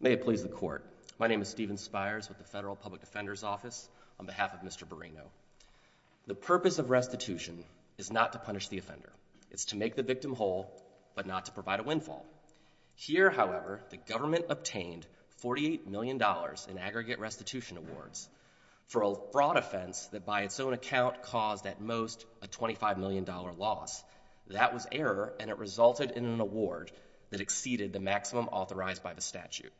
May it please the court, my name is Stephen Spires with the Federal Public Defender's Office on behalf of Mr. Borino. The purpose of restitution is not to punish the offender, it's to make the victim whole but not to provide a windfall. Here however, the government obtained $48 million in aggregate restitution awards for a fraud offense that by its own account caused at most a $25 million loss. That was error and it resulted in an award that exceeded the maximum authorized by the statute.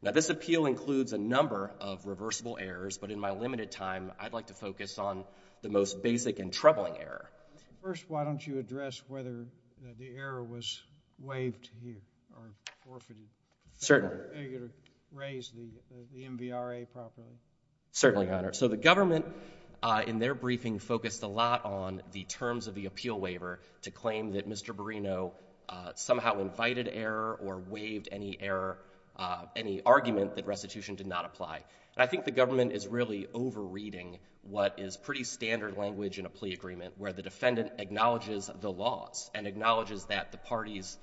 Now this appeal includes a number of reversible errors, but in my limited time I'd like to focus on the most basic and troubling error. First, why don't you address whether the error was waived here or forfeited. Certainly. Are you going to raise the MVRA properly? Certainly, Your Honor. So the government in their briefing focused a lot on the terms of the appeal waiver to claim that Mr. Borino somehow invited error or waived any error, any argument that restitution did not apply. And I think the government is really over reading what is pretty standard language in a plea agreement where the defendant acknowledges the laws and acknowledges that the parties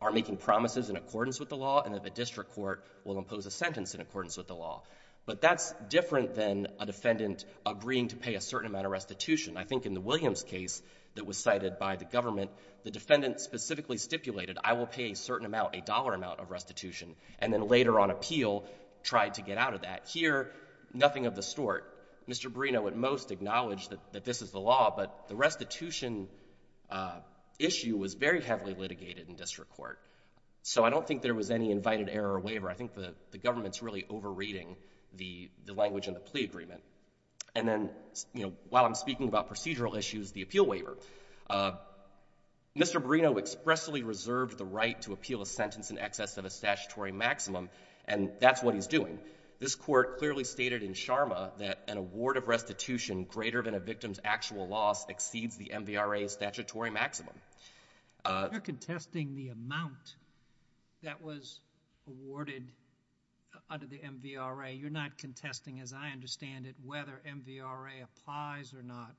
are making promises in accordance with the law and that the district court will impose a sentence in accordance with the law. But that's different than a defendant agreeing to pay a certain amount of restitution. I think in the Williams case that was cited by the government, the defendant specifically stipulated I will pay a certain amount, a dollar amount of restitution, and then later on appeal tried to get out of that. Here, nothing of the sort. Mr. Borino at most acknowledged that this is the law, but the restitution issue was very heavily litigated in district court. So I don't think there was any invited error or waiver. I think the government is really over reading the language in the plea agreement. And then, you know, while I'm speaking about procedural issues, the appeal waiver. Mr. Borino expressly reserved the right to appeal a sentence in excess of a statutory maximum and that's what he's doing. This court clearly stated in Sharma that an award of restitution greater than a victim's actual loss exceeds the MVRA statutory maximum. You're contesting the amount that was awarded under the MVRA. You're not contesting, as I understand it, whether MVRA applies or not.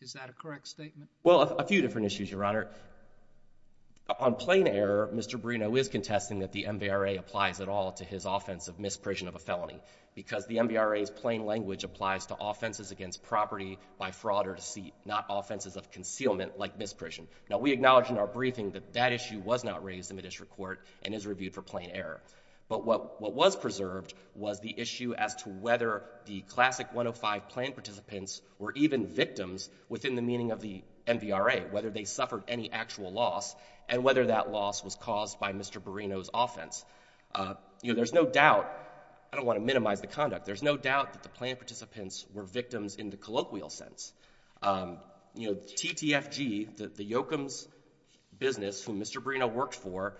Is that a correct statement? Well, a few different issues, Your Honor. On plain error, Mr. Borino is contesting that the MVRA applies at all to his offense of misprision of a felony because the MVRA's plain language applies to offenses against property by fraud or deceit, not offenses of concealment like misprision. Now, we acknowledge in our briefing that that issue was not raised in the district court and is reviewed for plain error. But what was preserved was the issue as to whether the classic 105 plain participants were even victims within the meaning of the MVRA, whether they suffered any actual loss and whether that loss was caused by Mr. Borino's offense. You know, there's no doubt, I don't want to minimize the conduct, there's no doubt that the plain participants were victims in the colloquial sense. You know, TTFG, the Yoakum's business whom Mr. Borino worked for,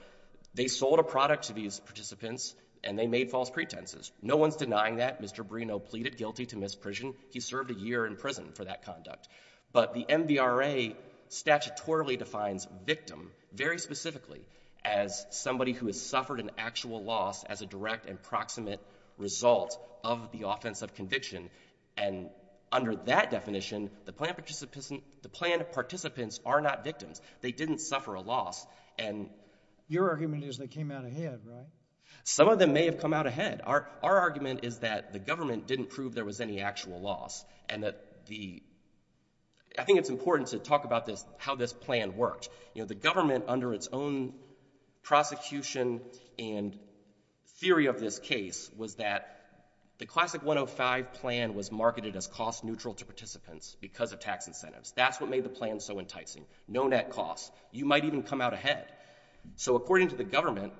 they sold a product to these participants and they made false pretenses. No one's denying that. Mr. Borino pleaded guilty to misprision. He served a year in prison for that conduct. But the MVRA statutorily defines victim very specifically as somebody who has suffered an actual loss as a direct and proximate result of the offense of conviction. And under that definition, the plain participants are not victims. They didn't suffer a loss. And your argument is they came out ahead, right? Some of them may have come out ahead. Our argument is that the government didn't prove there was any actual loss and that the — I think it's important to talk about this, how this plan worked. You know, the government, under its own prosecution and theory of this case, was that the Classic 105 plan was marketed as cost-neutral to participants because of tax incentives. That's what made the plan so enticing. No net costs. You might even come out ahead. So according to the government,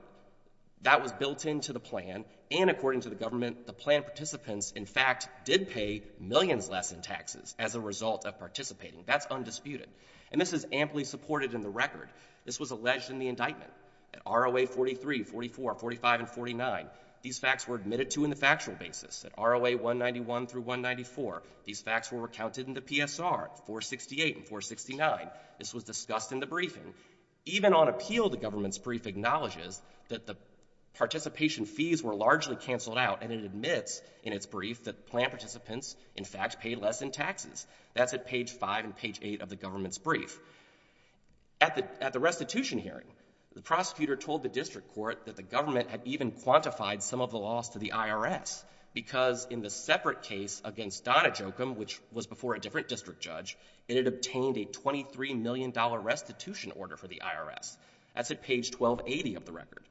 that was built into the plan, and according to the government, the plain participants, in fact, did pay millions less in taxes as a result of participating. That's undisputed. And this is amply supported in the record. This was alleged in the indictment. At ROA 43, 44, 45, and 49, these facts were admitted to in the factual basis. At ROA 191 through 194, these facts were recounted in the PSR, 468 and 469. This was discussed in the briefing. Even on appeal, the government's brief acknowledges that the participation fees were largely canceled out, and it admits in its brief that plain participants, in fact, paid less in taxes. That's at page 5 and page 8 of the government's brief. At the restitution hearing, the prosecutor told the district court that the government had even quantified some of the loss to the IRS, because in the separate case against Donna Jokum, which was before a different district judge, it had obtained a $23 million restitution order for the IRS. That's at page 1280 of the record.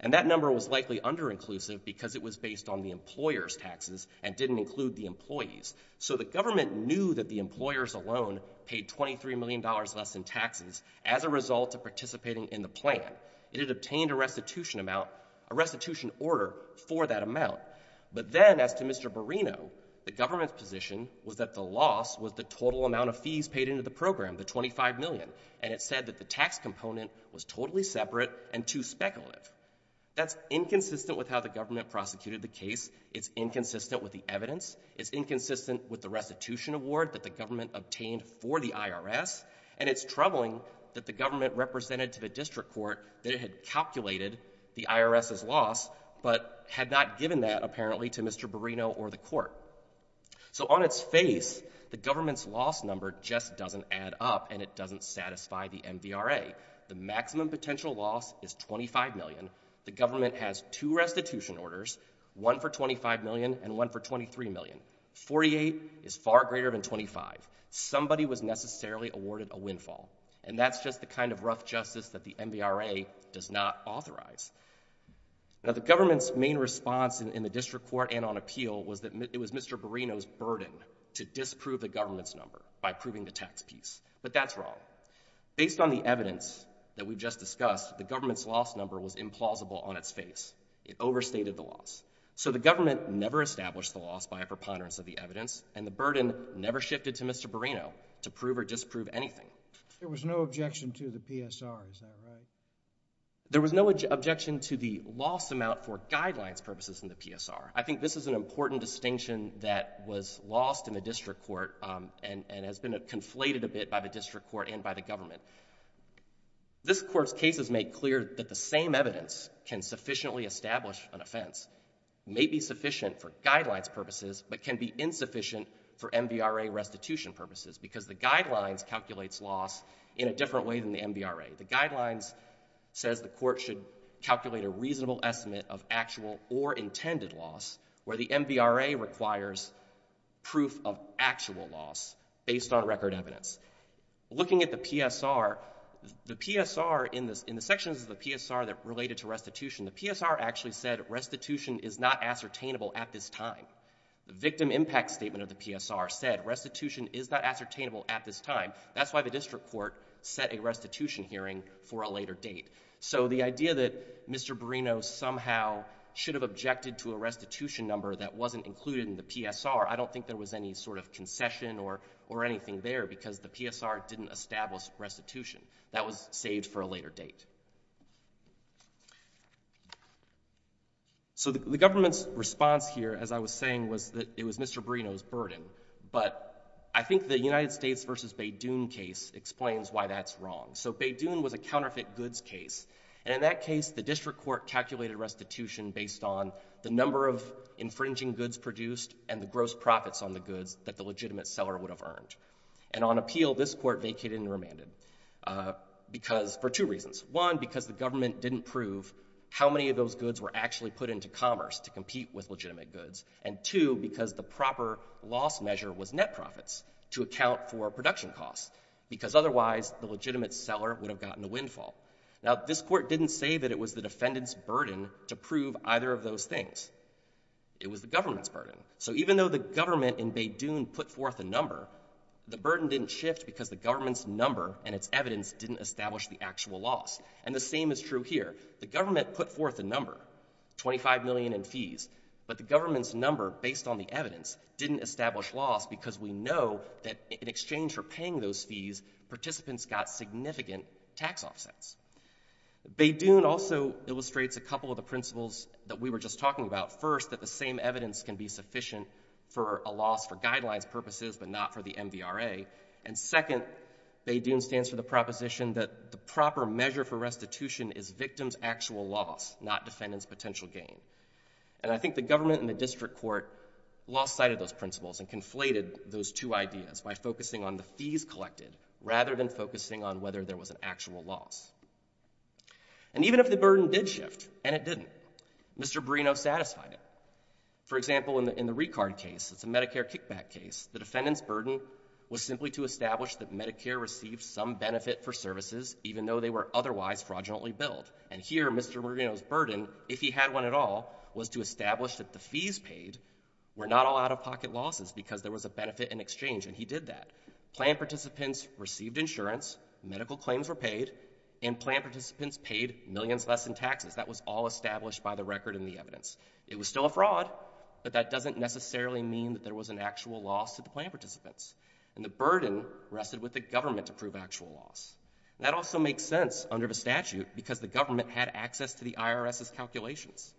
And that number was likely under-inclusive because it was based on the employer's taxes and didn't include the employees. So the government knew that the employers alone paid $23 million less in taxes as a result of participating in the plan. It had obtained a restitution amount, a restitution order for that amount. But then, as to Mr. Barrino, the government's position was that the loss was the total amount of fees paid into the program, the $25 million, and it said that the tax component was totally separate and too speculative. That's inconsistent with how the government prosecuted the case. It's inconsistent with the evidence. It's inconsistent with the restitution award that the government obtained for the IRS. And it's troubling that the government represented to the district court that it had calculated the IRS's loss, but had not given that, apparently, to Mr. Barrino or the court. So on its face, the government's loss number just doesn't add up, and it doesn't satisfy the MVRA. The maximum potential loss is $25 million. The government has two restitution orders, one for $25 million and one for $23 million. $48 is far greater than $25. Somebody was necessarily awarded a windfall, and that's just the kind of rough justice that the MVRA does not authorize. Now, the government's main response in the district court and on appeal was that it was Mr. Barrino's burden to disprove the government's number by proving the tax piece. But that's wrong. Based on the evidence that we've just discussed, the government's loss number was implausible on its face. It overstated the loss. So the government never established the loss by a preponderance of the evidence, and the burden never shifted to Mr. Barrino to prove or disprove anything. There was no objection to the PSR, is that right? There was no objection to the loss amount for guidelines purposes in the PSR. I think this is an important distinction that was lost in the district court and has been conflated a bit by the district court and by the government. This court's cases make clear that the same evidence can sufficiently establish an offense, may be sufficient for guidelines purposes, but can be insufficient for MVRA restitution purposes because the guidelines calculates loss in a different way than the MVRA. The guidelines says the court should calculate a reasonable estimate of actual or intended loss where the MVRA requires proof of actual loss based on record evidence. Looking at the PSR, the PSR in the sections of the PSR that related to restitution, the PSR actually said restitution is not ascertainable at this time. The victim impact statement of the PSR said restitution is not ascertainable at this time. That's why the district court set a restitution hearing for a later date. So the idea that Mr. Barrino somehow should have objected to a restitution number that wasn't included in the PSR, I don't think there was any sort of concession or anything there because the PSR didn't establish restitution. That was saved for a later date. So the government's response here, as I was saying, was that it was Mr. Barrino's burden, but I think the United States v. Beydoun case explains why that's wrong. So Beydoun was a counterfeit goods case, and in that case, the district court calculated restitution based on the number of infringing goods produced and the gross profits on the goods that the legitimate seller would have earned. And on appeal, this court vacated and remanded for two reasons. One, because the government didn't prove how many of those goods were actually put into commerce to compete with legitimate goods, and two, because the proper loss measure was to account for production costs, because otherwise the legitimate seller would have gotten a windfall. Now, this court didn't say that it was the defendant's burden to prove either of those things. It was the government's burden. So even though the government in Beydoun put forth a number, the burden didn't shift because the government's number and its evidence didn't establish the actual loss. And the same is true here. The government put forth a number, $25 million in fees, but the government's number, based on the evidence, didn't establish loss because we know that in exchange for paying those fees, participants got significant tax offsets. Beydoun also illustrates a couple of the principles that we were just talking about. First, that the same evidence can be sufficient for a loss for guidelines purposes, but not for the MVRA, and second, Beydoun stands for the proposition that the proper measure for restitution is victim's actual loss, not defendant's potential gain. And I think the government and the district court lost sight of those principles and conflated those two ideas by focusing on the fees collected, rather than focusing on whether there was an actual loss. And even if the burden did shift, and it didn't, Mr. Marino satisfied it. For example, in the Ricard case, it's a Medicare kickback case, the defendant's burden was simply to establish that Medicare received some benefit for services, even though they were otherwise fraudulently billed. And here, Mr. Marino's burden, if he had one at all, was to establish that the fees paid were not all out-of-pocket losses because there was a benefit in exchange, and he did that. Planned participants received insurance, medical claims were paid, and planned participants paid millions less in taxes. That was all established by the record in the evidence. It was still a fraud, but that doesn't necessarily mean that there was an actual loss to the planned participants. And the burden rested with the government to prove actual loss. That also makes sense under the statute, because the government had access to the IRS's calculations.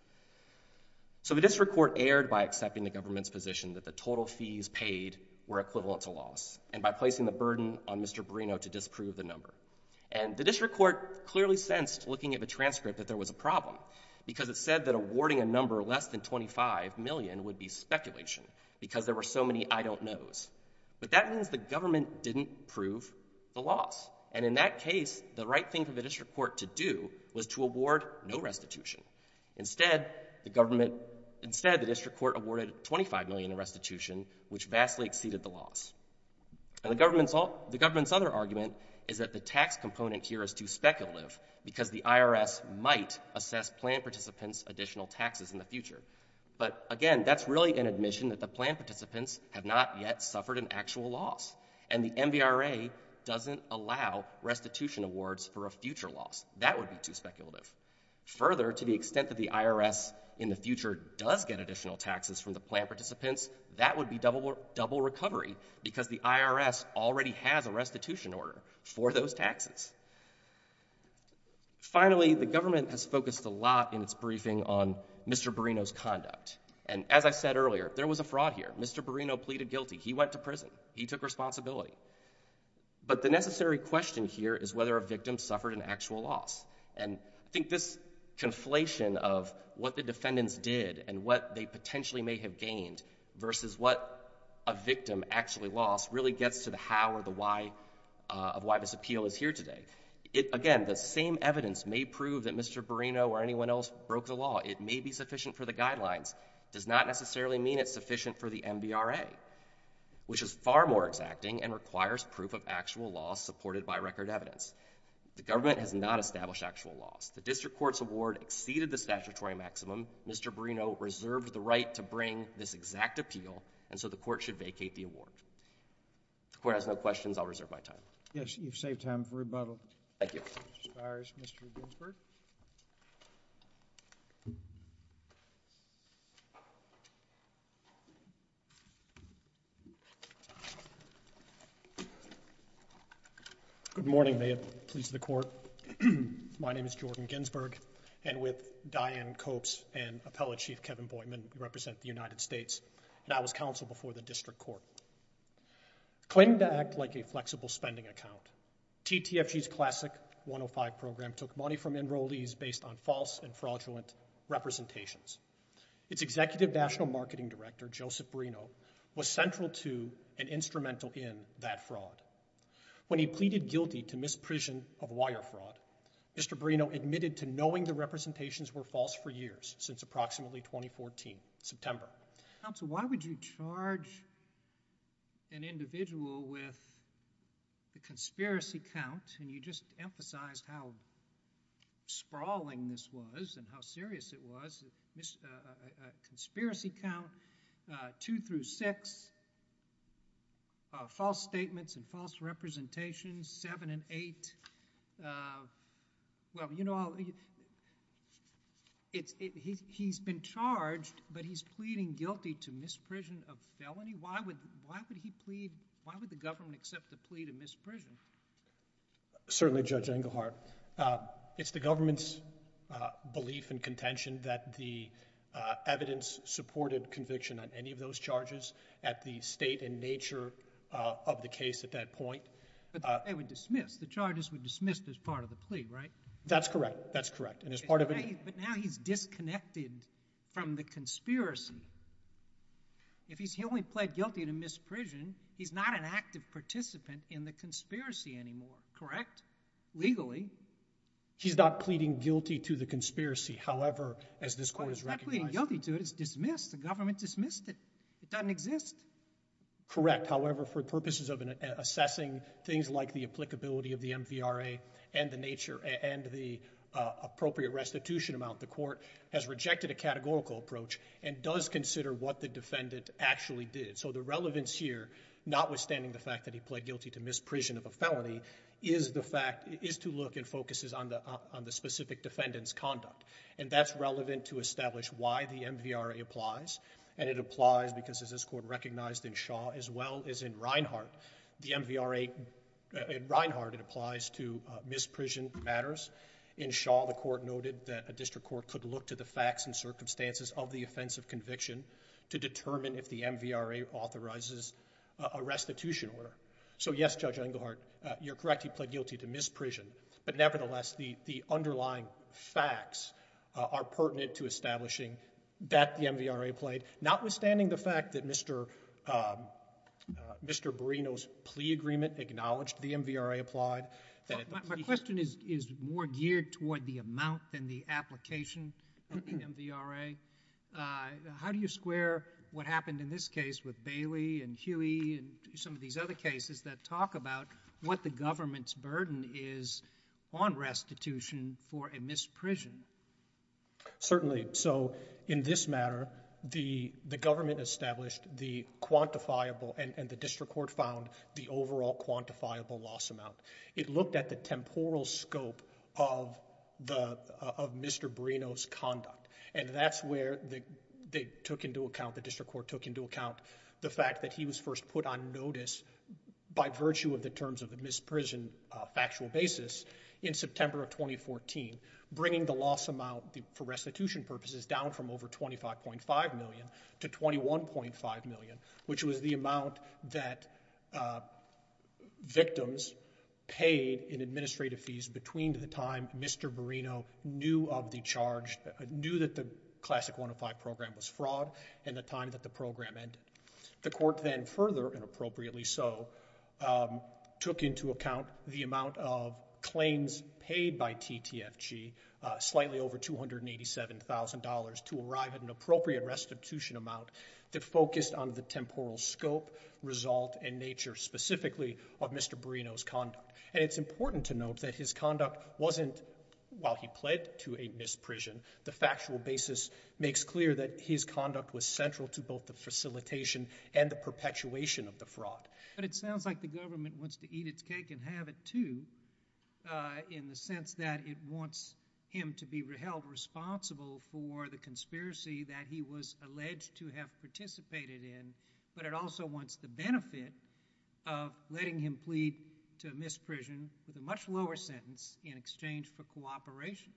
So the district court erred by accepting the government's position that the total fees paid were equivalent to loss, and by placing the burden on Mr. Marino to disprove the number. And the district court clearly sensed, looking at the transcript, that there was a problem, because it said that awarding a number less than $25 million would be speculation, because there were so many I don't knows. But that means the government didn't prove the loss. And in that case, the right thing for the district court to do was to award no restitution. Instead, the district court awarded $25 million in restitution, which vastly exceeded the loss. And the government's other argument is that the tax component here is too speculative, because the IRS might assess planned participants' additional taxes in the future. But again, that's really an admission that the planned participants have not yet suffered an actual loss. And the MVRA doesn't allow restitution awards for a future loss. That would be too speculative. Further, to the extent that the IRS in the future does get additional taxes from the planned participants, that would be double recovery, because the IRS already has a restitution order for those taxes. Finally, the government has focused a lot in its briefing on Mr. Barrino's conduct. And as I said earlier, there was a fraud here. Mr. Barrino pleaded guilty. He went to prison. He took responsibility. But the necessary question here is whether a victim suffered an actual loss. And I think this conflation of what the defendants did and what they potentially may have gained versus what a victim actually lost really gets to the how or the why of why this appeal is here today. Again, the same evidence may prove that Mr. Barrino or anyone else broke the law. It may be sufficient for the guidelines. It does not necessarily mean it's sufficient for the MVRA, which is far more exacting and requires proof of actual loss supported by record evidence. The government has not established actual loss. The district court's award exceeded the statutory maximum. Mr. Barrino reserved the right to bring this exact appeal, and so the court should vacate the award. If the court has no questions, I'll reserve my time. Yes, you've saved time for rebuttal. Thank you. Mr. Spires, Mr. Ginsberg. Good morning. May it please the Court. My name is Jordan Ginsberg, and with Diane Copes and Appellate Chief Kevin Boydman, we represent the United States. And I was counsel before the district court. Claiming to act like a flexible spending account, TTFG's classic 105 program took money from enrollees based on false and fraudulent representations. Its Executive National Marketing Director, Joseph Barrino, was central to and instrumental in that fraud. When he pleaded guilty to misprision of wire fraud, Mr. Barrino admitted to knowing the representations were false for years, since approximately 2014, September. Counsel, why would you charge an individual with a conspiracy count, and you just emphasized how sprawling this was, and how serious it was, a conspiracy count, 2 through 6, false statements and false representations, 7 and 8, well, you know, he's been charged, but he's pleading guilty to misprision of felony? Why would he plead, why would the government accept a plea to misprision? Certainly Judge Engelhardt. It's the government's belief and contention that the evidence supported conviction on any of those charges at the state and nature of the case at that point. But they would dismiss, the charges would dismiss as part of the plea, right? That's correct. That's correct. But now he's disconnected from the conspiracy. If he's only pled guilty to misprision, he's not an active participant in the conspiracy anymore, correct, legally? He's not pleading guilty to the conspiracy, however, as this court has recognized. He's not pleading guilty to it, it's dismissed, the government dismissed it. It doesn't exist. Correct, however, for purposes of assessing things like the applicability of the MVRA and the appropriate restitution amount, the court has rejected a categorical approach and does consider what the defendant actually did. So the relevance here, notwithstanding the fact that he pled guilty to misprision of a felony, is to look and focuses on the specific defendant's conduct. And that's relevant to establish why the MVRA applies, and it applies because as this court recognized in Shaw as well as in Reinhart, the MVRA, in Reinhart, it applies to misprision matters. In Shaw, the court noted that a district court could look to the facts and circumstances of the offense of conviction to determine if the MVRA authorizes a restitution order. So yes, Judge Engelhardt, you're correct, he pled guilty to misprision, but nevertheless, the underlying facts are pertinent to establishing that the MVRA pled, notwithstanding the fact that Mr. Barrino's plea agreement acknowledged the MVRA applied, that it pled guilty to misprision. My question is more geared toward the amount than the application of the MVRA. How do you square what happened in this case with Bailey and Huey and some of these other cases that talk about what the government's burden is on restitution for a misprision? Certainly. So in this matter, the government established the quantifiable, and the district court found the overall quantifiable loss amount. It looked at the temporal scope of Mr. Barrino's conduct, and that's where they took into account, the district court took into account, the fact that he was first put on notice by virtue of the terms of the misprision factual basis in September of 2014, bringing the loss amount for restitution purposes down from over $25.5 million to $21.5 million, which was the amount that victims paid in administrative fees between the time Mr. Barrino knew of the charge, knew that the Classic 105 program was fraud, and the time that the program ended. The court then further, and appropriately so, took into account the amount of claims paid by TTFG, slightly over $287,000, to arrive at an appropriate restitution amount that focused on the temporal scope, result, and nature specifically of Mr. Barrino's conduct. And it's important to note that his conduct wasn't, while he pled to a misprision, the makes clear that his conduct was central to both the facilitation and the perpetuation of the fraud. But it sounds like the government wants to eat its cake and have it too, in the sense that it wants him to be held responsible for the conspiracy that he was alleged to have participated in, but it also wants the benefit of letting him plead to misprision with a much lower sentence in exchange for cooperation.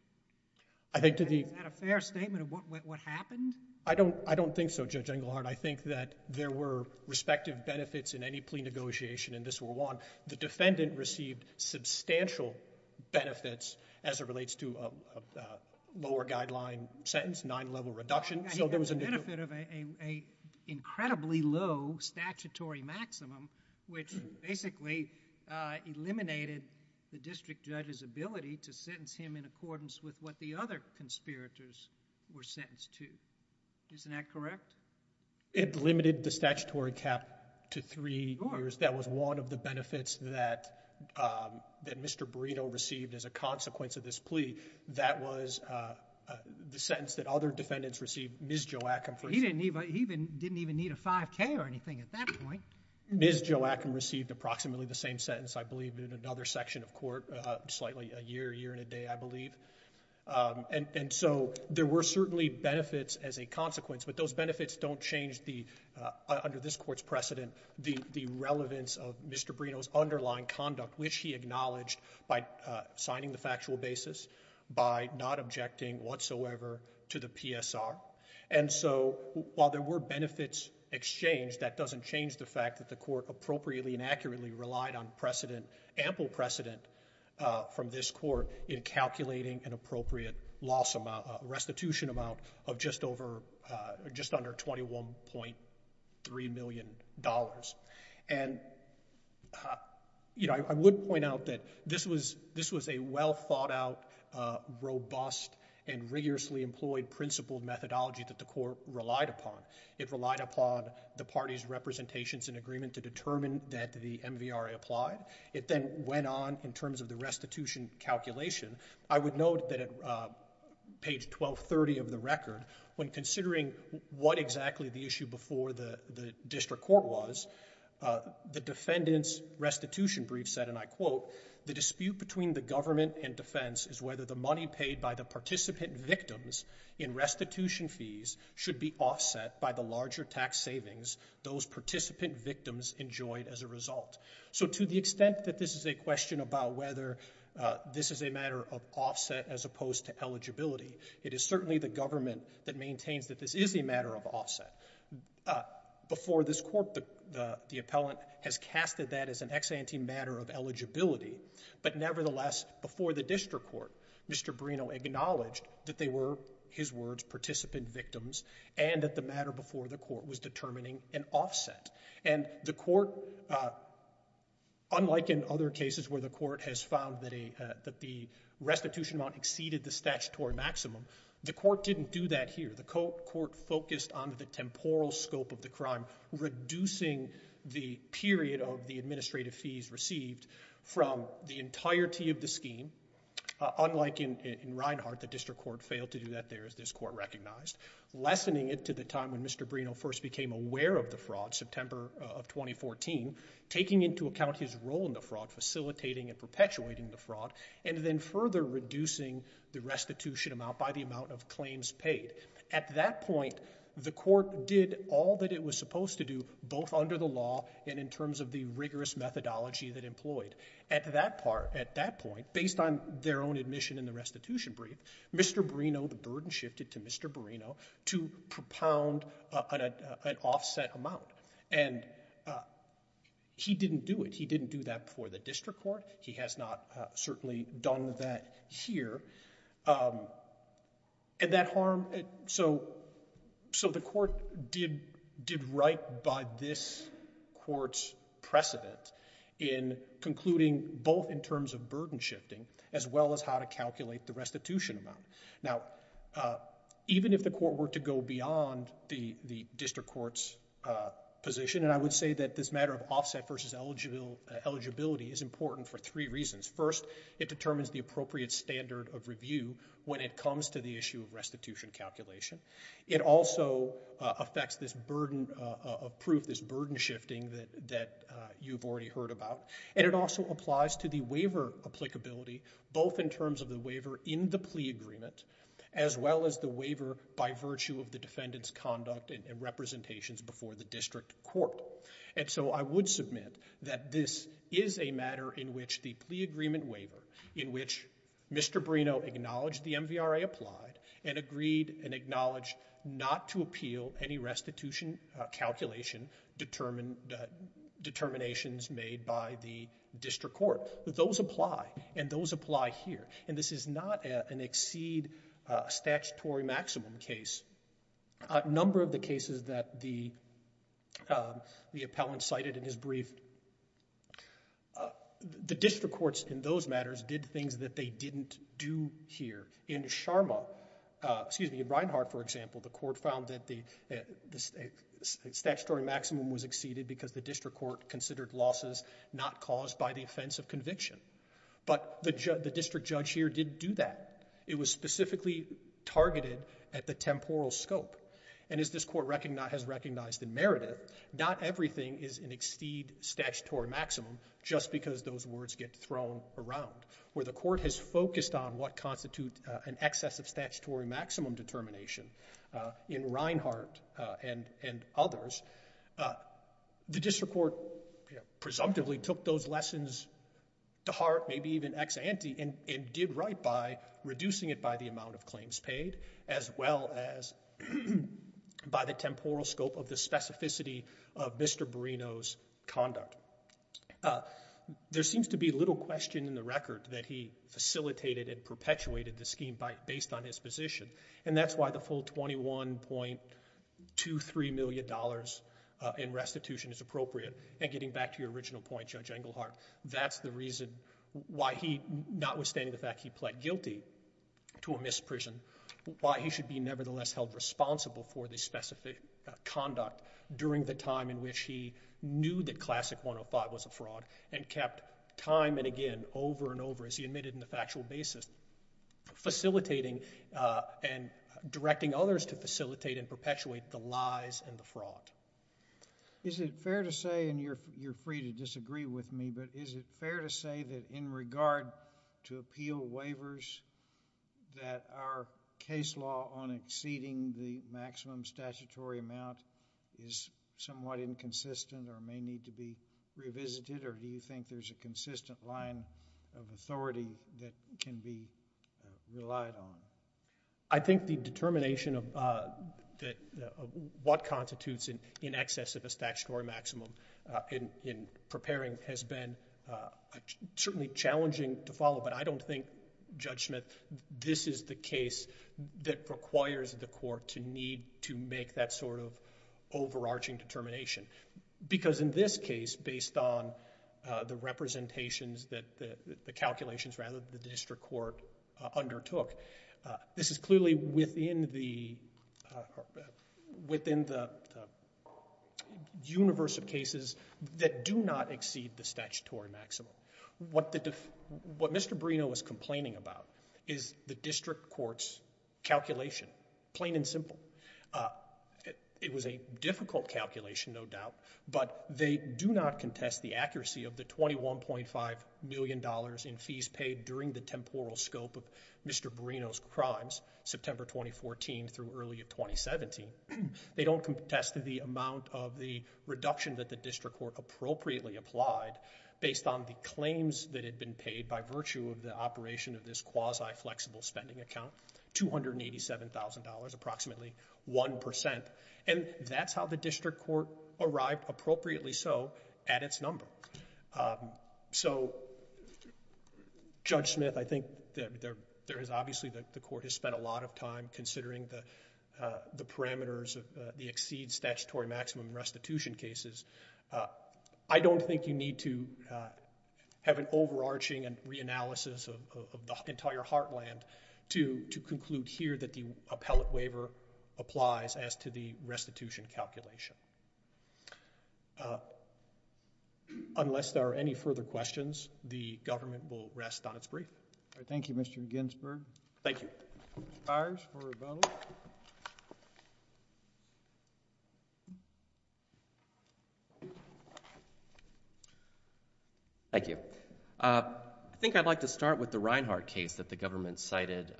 Is that a fair statement of what happened? I don't think so, Judge Engelhardt. I think that there were respective benefits in any plea negotiation in this World War I. The defendant received substantial benefits as it relates to a lower guideline sentence, nine level reduction. He got the benefit of an incredibly low statutory maximum, which basically eliminated the district judge's ability to sentence him in accordance with what the other conspirators were sentenced to. Isn't that correct? It limited the statutory cap to three years. That was one of the benefits that Mr. Barrino received as a consequence of this plea. That was the sentence that other defendants received. Ms. Joachim, for example. He didn't even need a 5K or anything at that point. Ms. Joachim received approximately the same sentence, I believe, in another section of court, slightly a year, year and a day, I believe. And so there were certainly benefits as a consequence, but those benefits don't change the, under this court's precedent, the relevance of Mr. Barrino's underlying conduct, which he acknowledged by signing the factual basis, by not objecting whatsoever to the PSR. And so while there were benefits exchanged, that doesn't change the fact that the court appropriately and accurately relied on precedent, ample precedent, from this court in calculating an appropriate loss amount, restitution amount, of just under $21.3 million. And I would point out that this was a well thought out, robust, and rigorously employed principled methodology that the court relied upon. It relied upon the party's representations and agreement to determine that the MVRA applied. It then went on in terms of the restitution calculation. I would note that at page 1230 of the record, when considering what exactly the issue before the district court was, the defendant's restitution brief said, and I quote, the dispute between the government and defense is whether the money paid by the participant victims in restitution fees should be offset by the larger tax savings those participant victims enjoyed as a result. So to the extent that this is a question about whether this is a matter of offset as opposed to eligibility, it is certainly the government that maintains that this is a matter of offset. Before this court, the appellant has casted that as an ex ante matter of eligibility, but nevertheless, before the district court, Mr. Bruno acknowledged that they were, his words, participant victims, and that the matter before the court was determining an offset. And the court, unlike in other cases where the court has found that the restitution amount exceeded the statutory maximum, the court didn't do that here. The court focused on the temporal scope of the crime, reducing the period of the administrative fees received from the entirety of the scheme, unlike in Reinhart, the district court failed to do that there as this court recognized, lessening it to the time when Mr. Bruno first became aware of the fraud, September of 2014, taking into account his role in the fraud, facilitating and perpetuating the fraud, and then further reducing the restitution amount by the amount of claims paid. At that point, the court did all that it was supposed to do, both under the law and in terms of the rigorous methodology that employed. At that part, at that point, based on their own admission in the restitution brief, Mr. Bruno, the burden shifted to Mr. Bruno to propound an offset amount. And he didn't do it. He didn't do that before the district court. He has not certainly done that here. And that harm, so the court did right by this court's precedent in concluding both in terms of burden shifting as well as how to calculate the restitution amount. Now, even if the court were to go beyond the district court's position, and I would say that this matter of offset versus eligibility is important for three reasons. First, it determines the appropriate standard of review when it comes to the issue of restitution calculation. It also affects this burden of proof, this burden shifting that you've already heard about. And it also applies to the waiver applicability, both in terms of the waiver in the plea agreement as well as the waiver by virtue of the defendant's conduct and representations before the district court. And so I would submit that this is a matter in which the plea agreement waiver, in which Mr. Bruno acknowledged the MVRA applied and agreed and acknowledged not to appeal any restitution calculation determinations made by the district court. Those apply. And those apply here. And this is not an exceed statutory maximum case. A number of the cases that the appellant cited in his brief, the district courts in those matters did things that they didn't do here. In Sharma, excuse me, in Reinhart, for example, the court found that the statutory maximum was exceeded because the district court considered losses not caused by the offense of conviction. But the district judge here didn't do that. It was specifically targeted at the temporal scope. And as this court has recognized in Meredith, not everything is an exceed statutory maximum just because those words get thrown around. Where the court has focused on what constitutes an excess of statutory maximum determination in Reinhart and others, the district court presumptively took those lessons to heart, maybe even ex ante, and did right by reducing it by the amount of claims paid, as well as by the temporal scope of the specificity of Mr. Bruno's conduct. There seems to be little question in the record that he facilitated and perpetuated the scheme based on his position. And that's why the full $21.23 million in restitution is appropriate. And getting back to your original point, Judge Engelhardt, that's the reason why he, not withstanding the fact he pled guilty to a misprision, why he should be nevertheless held responsible for the specific conduct during the time in which he knew that Classic 105 was a fraud and kept time and again, over and over, as he admitted in the factual basis, facilitating and directing others to facilitate and perpetuate the lies and the fraud. Is it fair to say, and you're free to disagree with me, but is it fair to say that in regard to appeal waivers, that our case law on exceeding the maximum statutory amount is somewhat inconsistent or may need to be revisited, or do you think there's a consistent line of authority that can be relied on? I think the determination of what constitutes in excess of a statutory maximum in preparing has been certainly challenging to follow, but I don't think, Judge Smith, this is the case that requires the court to need to make that sort of overarching determination. Because in this case, based on the representations, the calculations, rather, that the district court undertook, this is clearly within the universe of cases that do not exceed the statutory maximum. What Mr. Bruno was complaining about is the district court's calculation, plain and simple. It was a difficult calculation, no doubt, but they do not contest the accuracy of the $21.5 million in fees paid during the temporal scope of Mr. Bruno's crimes, September 2014 through early 2017. They don't contest the amount of the reduction that the district court appropriately applied based on the claims that had been paid by virtue of the operation of this quasi-flexible spending account, $287,000, approximately 1%. And that's how the district court arrived, appropriately so, at its number. So Judge Smith, I think there is obviously the court has spent a lot of time considering the parameters of the exceed statutory maximum restitution cases. I don't think you need to have an overarching reanalysis of the entire heartland to conclude here that the appellate waiver applies as to the restitution calculation. Unless there are any further questions, the government will rest on its brief. Thank you, Mr. Ginsberg. Thank you. Mr. Fiers for rebuttal. Thank you. I think I'd like to start with the Reinhart case that the government cited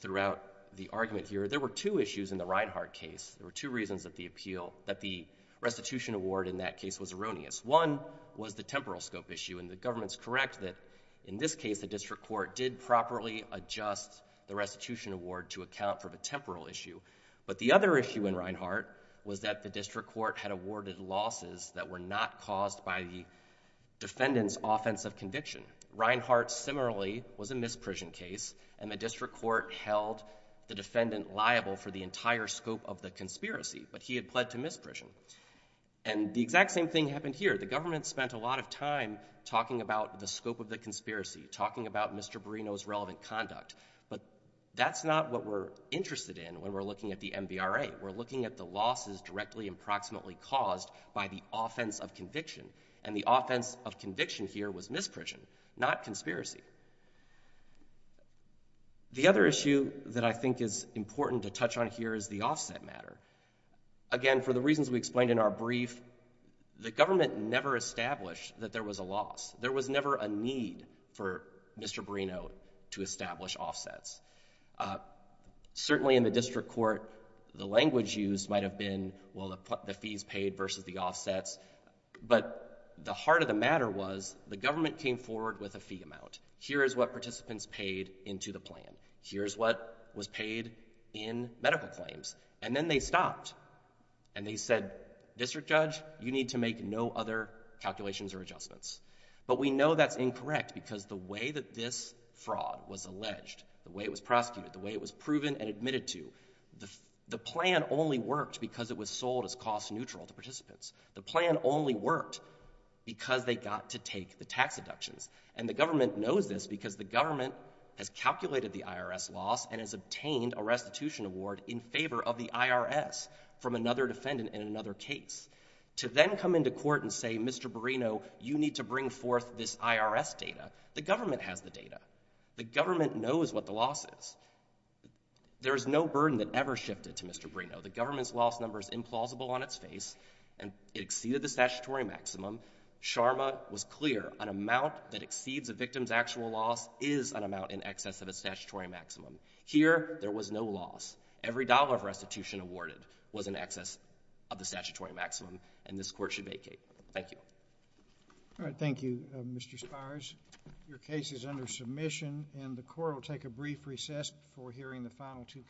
throughout the argument here. There were two issues in the Reinhart case. There were two reasons that the appeal, that the restitution award in that case was erroneous. One was the temporal scope issue, and the government's correct that in this case the district court did properly adjust the restitution award to account for the temporal issue. But the other issue in Reinhart was that the district court had awarded losses that were not caused by the defendant's offense of conviction. Reinhart similarly was a misprision case, and the district court held the defendant liable for the entire scope of the conspiracy, but he had pled to misprision. And the exact same thing happened here. The government spent a lot of time talking about the scope of the conspiracy, talking about Mr. Barrino's relevant conduct. But that's not what we're interested in when we're looking at the MVRA. We're looking at the losses directly and proximately caused by the offense of conviction. And the offense of conviction here was misprision, not conspiracy. The other issue that I think is important to touch on here is the offset matter. Again, for the reasons we explained in our brief, the government never established that there was a loss. There was never a need for Mr. Barrino to establish offsets. Certainly in the district court, the language used might have been, well, the fees paid versus the offsets. But the heart of the matter was the government came forward with a fee amount. Here is what participants paid into the plan. Here's what was paid in medical claims. And then they stopped, and they said, District Judge, you need to make no other calculations or adjustments. But we know that's incorrect, because the way that this fraud was alleged, the way it was prosecuted, the way it was proven and admitted to, the plan only worked because it was sold as cost-neutral to participants. The plan only worked because they got to take the tax deductions. And the government knows this because the government has calculated the IRS loss and has obtained a restitution award in favor of the IRS from another defendant in another case. To then come into court and say, Mr. Barrino, you need to bring forth this IRS data, the government has the data. The government knows what the loss is. There is no burden that ever shifted to Mr. Barrino. The government's loss number is implausible on its face, and it exceeded the statutory maximum. SHRMA was clear, an amount that exceeds a victim's actual loss is an amount in excess of a statutory maximum. Here there was no loss. Every dollar of restitution awarded was in excess of the statutory maximum, and this court should vacate. Thank you. All right. Thank you, Mr. Spires. Your case is under submission, and the court will take a brief recess before hearing the final two cases.